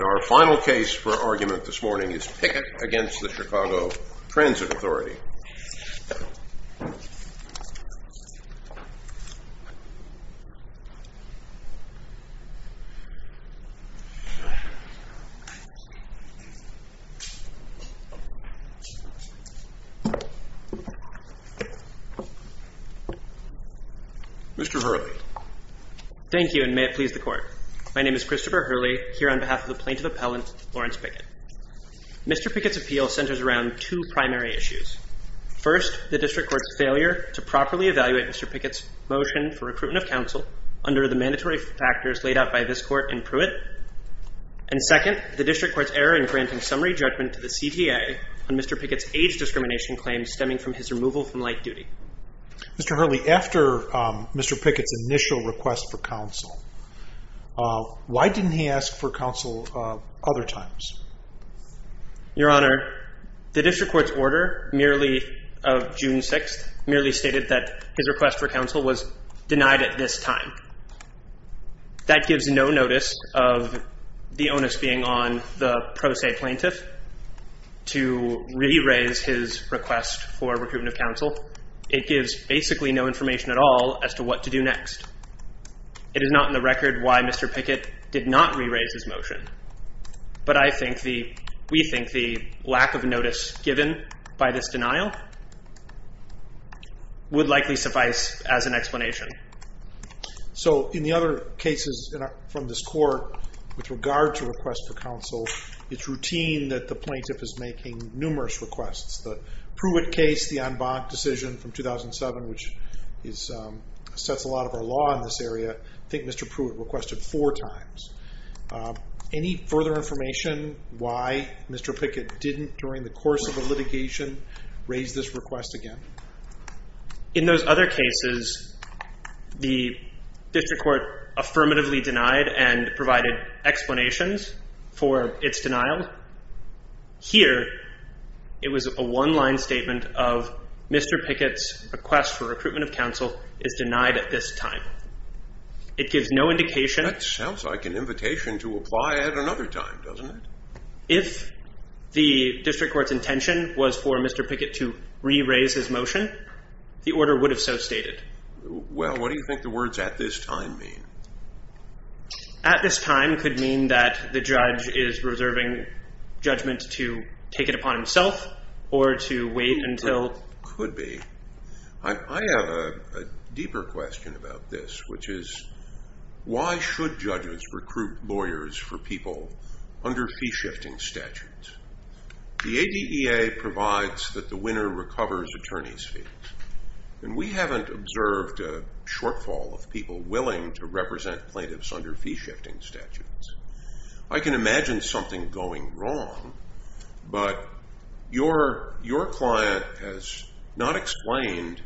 Our final case for argument this morning is Pickett v. Chicago Transit Authority Mr. Hurley Thank you and may it please the court. My name is Matt Hurley and I'm here on behalf of the plaintiff appellant Lawrence Pickett. Mr. Pickett's appeal centers around two primary issues. First, the district court's failure to properly evaluate Mr. Pickett's motion for recruitment of counsel under the mandatory factors laid out by this court in Pruitt. And second, the district court's error in granting summary judgment to the CTA on Mr. Pickett's age discrimination claims stemming from his removal from light duty. Mr. Hurley, after Mr. Pickett's initial request for counsel, why didn't he ask for counsel other times? Your Honor, the district court's order merely of June 6th merely stated that his request for counsel was denied at this time. That gives no notice of the onus being on the pro It gives basically no information at all as to what to do next. It is not in the record why Mr. Pickett did not re-raise his motion. But I think the, we think the lack of notice given by this denial would likely suffice as an explanation. So in the other cases from this court with regard to requests for counsel, it's routine that the plaintiff is making numerous requests. The Pruitt case, the en banc decision from 2007 which is, sets a lot of our law in this area, I think Mr. Pruitt requested four times. Any further information why Mr. Pickett didn't during the course of the litigation raise this request again? In those other cases, the district court affirmatively denied and provided explanations for its denial. Here, it was a one-line statement of Mr. Pickett's request for recruitment of counsel is denied at this time. It gives no indication. That sounds like an invitation to apply at another time, doesn't it? If the district court's intention was for Mr. Pickett to re-raise his motion, the order would have so stated. Well, what do you think the words at this time mean? At this time could mean that the judge is reserving judgment to take it upon himself or to wait until- Could be. I have a deeper question about this, which is, why should judges recruit lawyers for people under fee-shifting statutes? The ADEA provides that the winner recovers attorney's We haven't observed a shortfall of people willing to represent plaintiffs under fee-shifting statutes. I can imagine something going wrong, but your client has not explained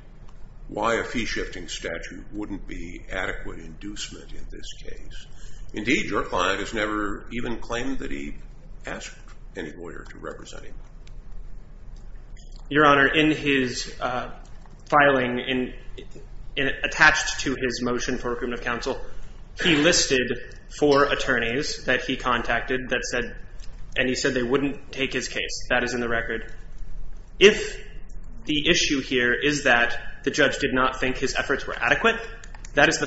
why a fee-shifting statute wouldn't be adequate inducement in this case. Indeed, your client has never even claimed that he asked any lawyer to represent him. Your Honor, in his filing attached to his motion for recruitment of counsel, he listed four attorneys that he contacted and he said they wouldn't take his case. That is in the record. If the issue here is that the judge did not think his efforts were adequate, the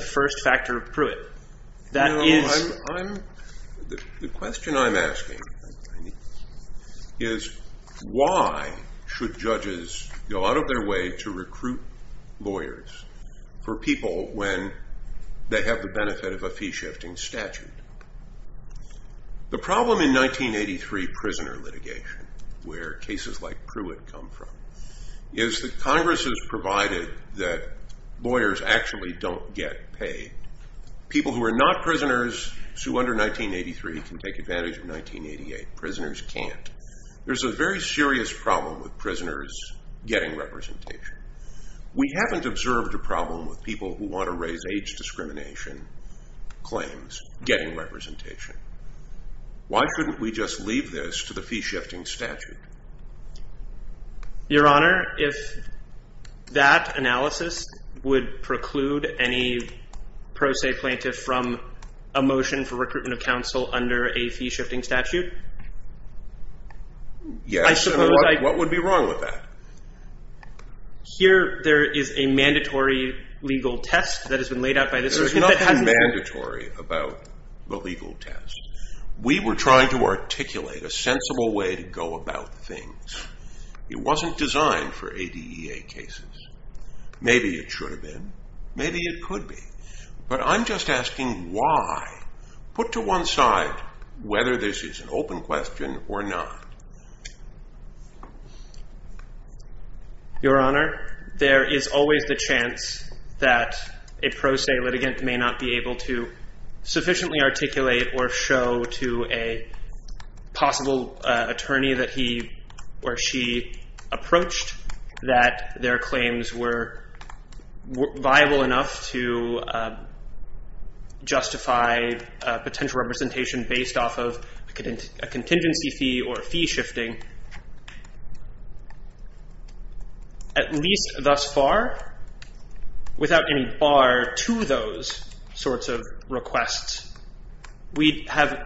question I'm asking is, why should judges go out of their way to recruit lawyers for people when they have the benefit of a fee-shifting statute? The problem in 1983 prisoner litigation, where cases like Pruitt come from, is that Congress has provided that lawyers actually don't get paid. People who are not prisoners who are under 1983 can take advantage of 1988. Prisoners can't. There's a very serious problem with prisoners getting representation. We haven't observed a problem with people who want to raise age discrimination claims getting representation. Why couldn't we just leave this to the fee-shifting statute? Your Honor, if that analysis would preclude any pro se plaintiff from a motion for recruitment of counsel under a fee-shifting statute? Yes. What would be wrong with that? Here, there is a mandatory legal test that has been laid out by this. There's nothing mandatory about the legal test. We were trying to articulate a sensible way to go about things. It wasn't designed for ADEA cases. Maybe it should have been. Maybe it could be. But I'm just asking why? Put to one side whether this is an open question or not. Your Honor, there is always the chance that a possible attorney that he or she approached that their claims were viable enough to justify potential representation based off of a contingency fee or fee-shifting. At least thus far, without any bar to those sorts of requests, Mr.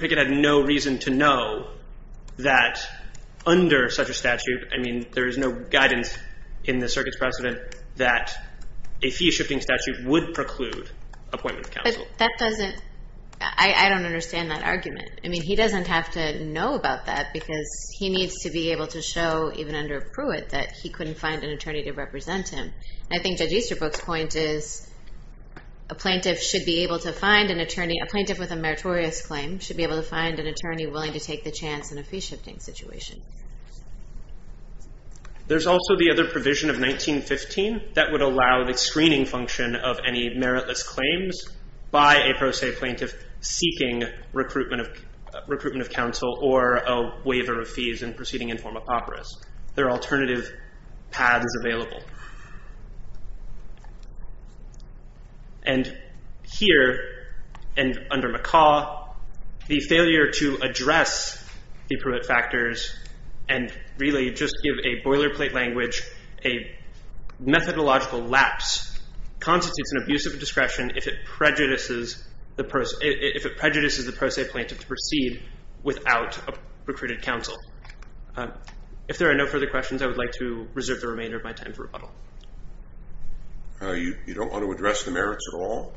Pickett had no reason to know that under such a statute, I mean, there is no guidance in the circuit's precedent that a fee-shifting statute would preclude appointment of counsel. I don't understand that argument. I mean, he doesn't have to know about that because he needs to be able to show even under Pruitt that he couldn't find an attorney. Mr. Easterbrook's point is a plaintiff with a meritorious claim should be able to find an attorney willing to take the chance in a fee-shifting situation. There's also the other provision of 1915 that would allow the screening function of any meritless claims by a pro se plaintiff seeking recruitment of counsel or a waiver of fees in proceeding in form of operas. There are alternative paths available. And here, and under McCaw, the failure to address the Pruitt factors and really just give a boilerplate language a methodological lapse constitutes an abuse of discretion if it prejudices the pro se plaintiff to proceed without a recruited counsel. If there are no further questions, I would like to reserve the remainder of my time for rebuttal. You don't want to address the merits at all?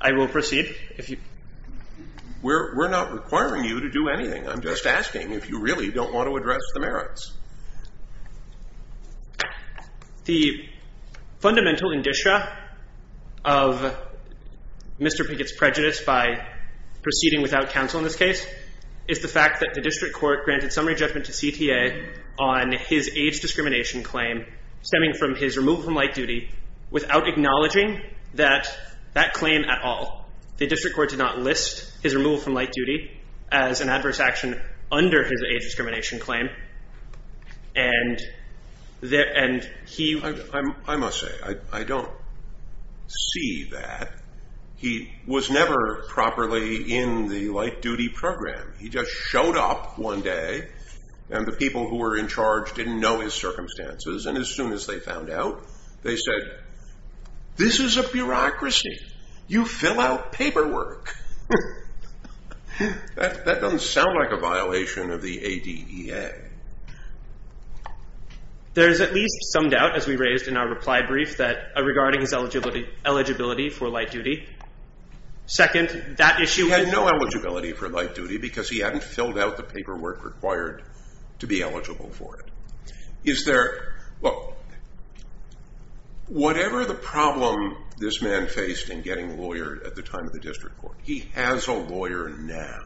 I will proceed. We're not requiring you to do anything. I'm just asking if you really don't want to address the merits. The fundamental indicia of Mr. Pickett's is the fact that the district court granted summary judgment to CTA on his age discrimination claim stemming from his removal from light duty without acknowledging that claim at all. The district court did not list his removal from light duty as an adverse action under his age discrimination claim. I must say, I don't see that. He was never properly in the light duty program. He just showed up one day, and the people who were in charge didn't know his circumstances, and as soon as they found out, they said, this is a bureaucracy. You fill out paperwork. That doesn't sound like a violation of the ADEA. There's at least some doubt, as we raised in our reply brief, regarding his eligibility for light duty. Second, that issue is that he had no eligibility for light duty because he hadn't filled out the paperwork required to be eligible for it. Whatever the problem this man faced in getting a lawyer at the time of the district court, he has a lawyer now.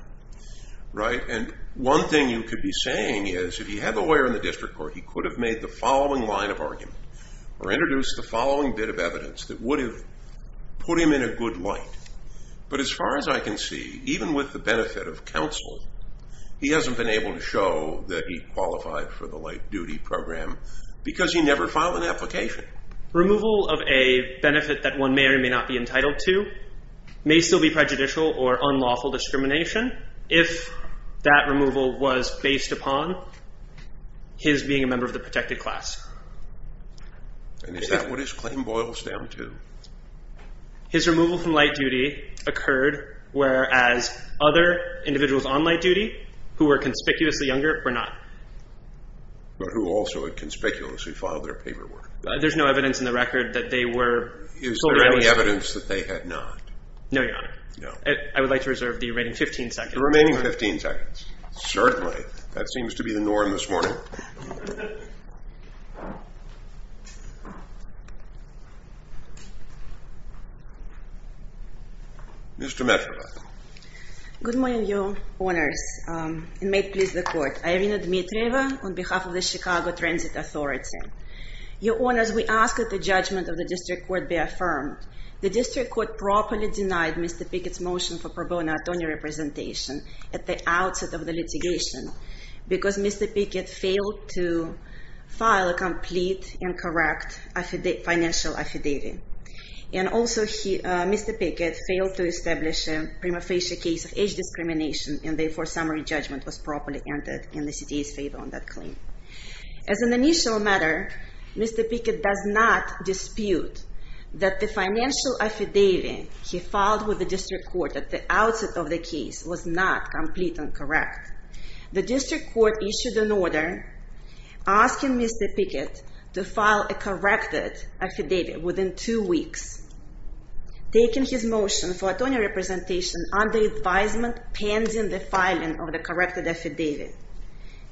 One thing you could be saying is, if he had a lawyer in the district court, he could have made the following line of argument, or even with the benefit of counsel, he hasn't been able to show that he qualified for the light duty program because he never filed an application. Removal of a benefit that one may or may not be entitled to may still be prejudicial or unlawful discrimination if that removal was based upon his being a member of the protected class. And is that what his claim boils down to? His removal from light duty occurred whereas other individuals on light duty who were conspicuously younger were not. But who also had conspicuously filed their paperwork. There's no evidence in the record that they were fully eligible. Is there any evidence that they had not? No, Your Honor. I would like to reserve the remaining 15 seconds. Certainly. That seems to be the norm this morning. Mr. Metrovic. Good morning, Your Honors. And may it please the Court. I am Irina Dmitrieva on behalf of the Chicago Transit Authority. Your Honors, we ask that the judgment of the district court be affirmed. The district court properly denied Mr. Pickett's motion for pro bono attorney representation. At the outset of the litigation. Because Mr. Pickett failed to file a complete and correct financial affidavit. And also Mr. Pickett failed to establish a prima facie case of age discrimination. And therefore summary judgment was properly entered in the CTA's favor on that claim. As an initial matter, Mr. Pickett does not dispute that the financial affidavit he filed with the district court at the outset of the case was not complete and correct. The district court issued an order asking Mr. Pickett to file a corrected affidavit within two weeks. Taking his motion for attorney representation under advisement pending the filing of the corrected affidavit.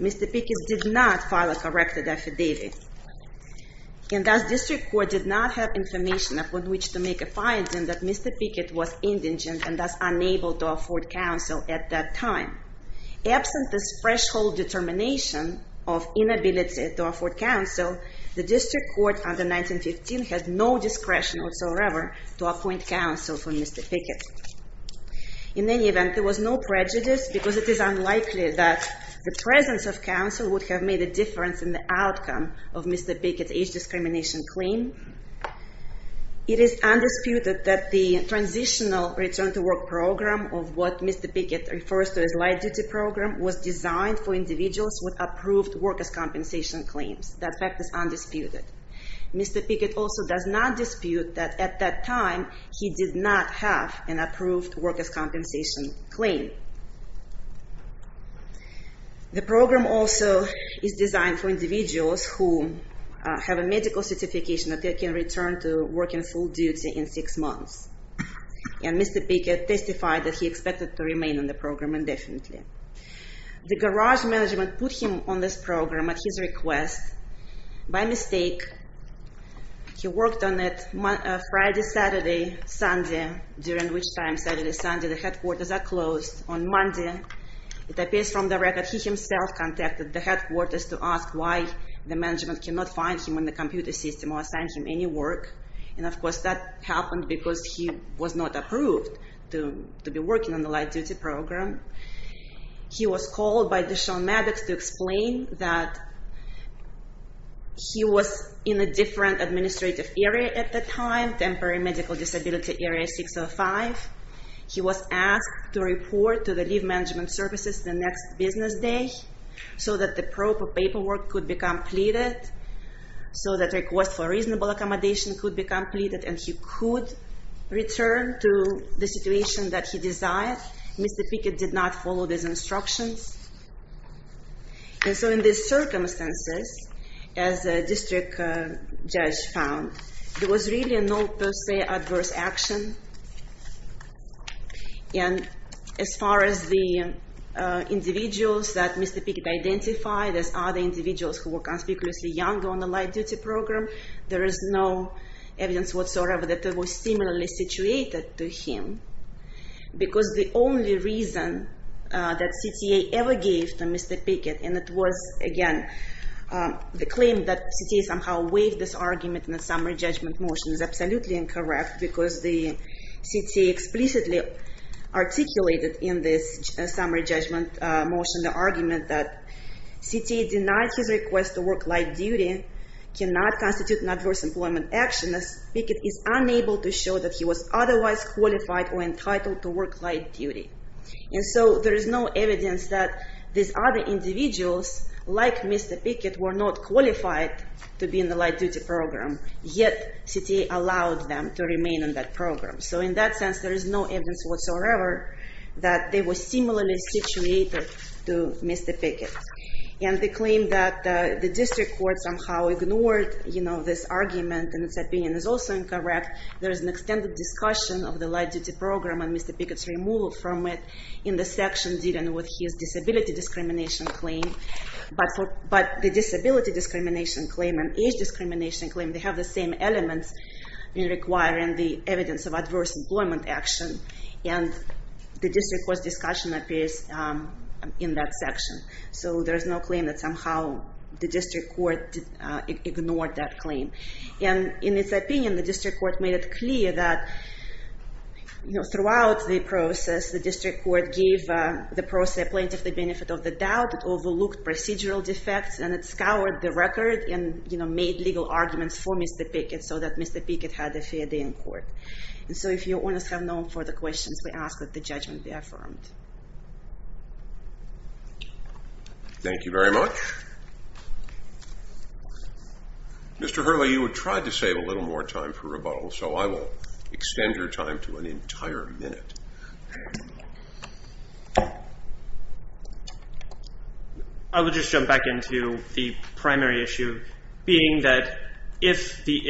Mr. Pickett did not file a corrected affidavit. And thus district court did not have information upon which to make a finding that Mr. Pickett was indigent and thus unable to afford counsel at that time. Absent this threshold determination of inability to afford counsel, the district court under 1915 had no discretion whatsoever to appoint counsel for Mr. Pickett. In any event, there was no prejudice because it is unlikely that the presence of counsel would have made a difference in the outcome of Mr. Pickett's age discrimination claim. It is undisputed that the transitional return to work program of what Mr. Pickett refers to as light duty program was designed for individuals with approved workers' compensation claims. That fact is undisputed. Mr. Pickett also does not dispute that at that time he did not have an approved workers' compensation claim. The program also is designed for individuals who have a medical certification that they can return to work in full duty in six months. And Mr. Pickett testified that he expected to remain in the program indefinitely. The garage management put him on this program at his request by mistake. He worked on it Friday, Saturday, Sunday, during which time Saturday, Sunday the headquarters are closed. On Monday, it appears from the record he himself contacted the headquarters to ask why the management cannot find him on the computer system or assign him any work. And of course that happened because he was not approved to be working on the light duty program. He was called by Deshaun Maddox to explain that he was in a different administrative area at the time, Temporary Medical Disability Area 605. He was asked to report to the leave management services the next business day so that the proper paperwork could be completed, so that request for reasonable accommodation could be completed and he could return to the situation that he desired. Mr. Pickett did not follow these instructions. And so in these circumstances, as a district judge found, there was really no per se adverse action. And as far as the individuals that Mr. Pickett identified as other individuals who were conspicuously younger on the light duty program, there is no evidence whatsoever that they were similarly situated to him. Because the only reason that CTA ever gave to Mr. Pickett, and it was, again, the claim that CTA somehow waived this argument in the summary judgment motion is absolutely incorrect because the CTA explicitly articulated in this summary judgment motion the argument that CTA denied his request to work light duty, cannot constitute an adverse employment action, as Pickett is unable to show that he was otherwise qualified or entitled to work light duty. And so there is no evidence that these other individuals, like Mr. Pickett, were not qualified to be in the light duty program, yet CTA allowed them to remain in that program. So in that sense, there is no evidence whatsoever that they were similarly situated to Mr. Pickett. And the claim that the district court somehow ignored this argument in its opinion is also incorrect. There is an extended discussion of the light duty program and Mr. Pickett's removal from it in the section dealing with his disability discrimination claim. But the disability discrimination claim and age discrimination claim, they have the same elements in requiring the evidence of adverse employment action, and the district court's discussion appears in that section. So there is no claim that somehow the district court ignored that claim. And in its opinion, the district court made it clear that throughout the process, the district court gave the process plaintiff the benefit of the doubt, overlooked procedural defects, and it scoured the record and made legal arguments for Mr. Pickett so that Mr. Pickett had a fair day in court. And so if your owners have no further questions, we ask that the judgment be affirmed. Thank you very much. Mr. Hurley, you have tried to save a little more time for rebuttal, so I will extend your time to an entire minute. I will just jump back into the primary issue, being that if the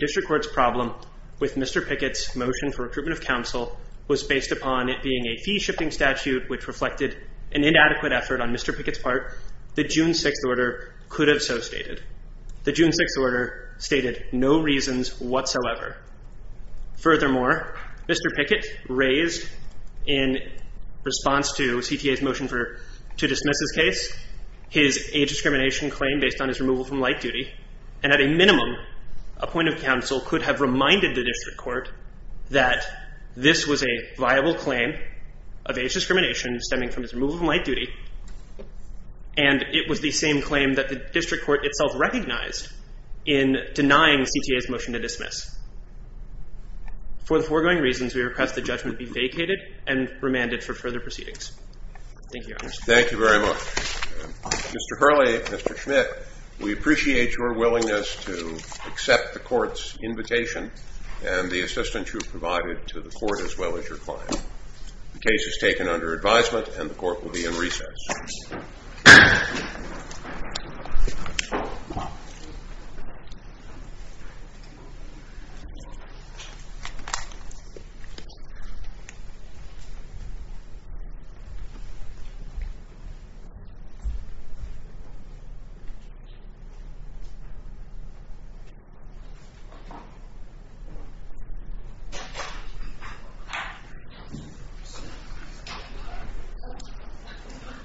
district court's problem with Mr. Pickett's motion for recruitment of counsel was based upon it being a fee-shifting statute which reflected an inadequate effort on Mr. Pickett's part, the June 6th order could have so stated. The June 6th order stated no reasons whatsoever. Furthermore, Mr. Pickett raised in response to CTA's motion to dismiss his case his age discrimination claim based on his removal from light duty, and at a minimum a point of counsel could have reminded the district court that this was a viable claim of age discrimination stemming from his removal from light duty, and it was the same claim that the district court itself recognized in denying CTA's motion to dismiss. For the foregoing reasons, we request the judgment be vacated and remanded for further proceedings. Thank you, Your Honor. Thank you very much. Mr. Hurley, Mr. Schmidt, we appreciate your willingness to accept the court's invitation and the assistance you've provided to the court as well as your client. The case is taken under advisement, and the court will be in recess. Thank you.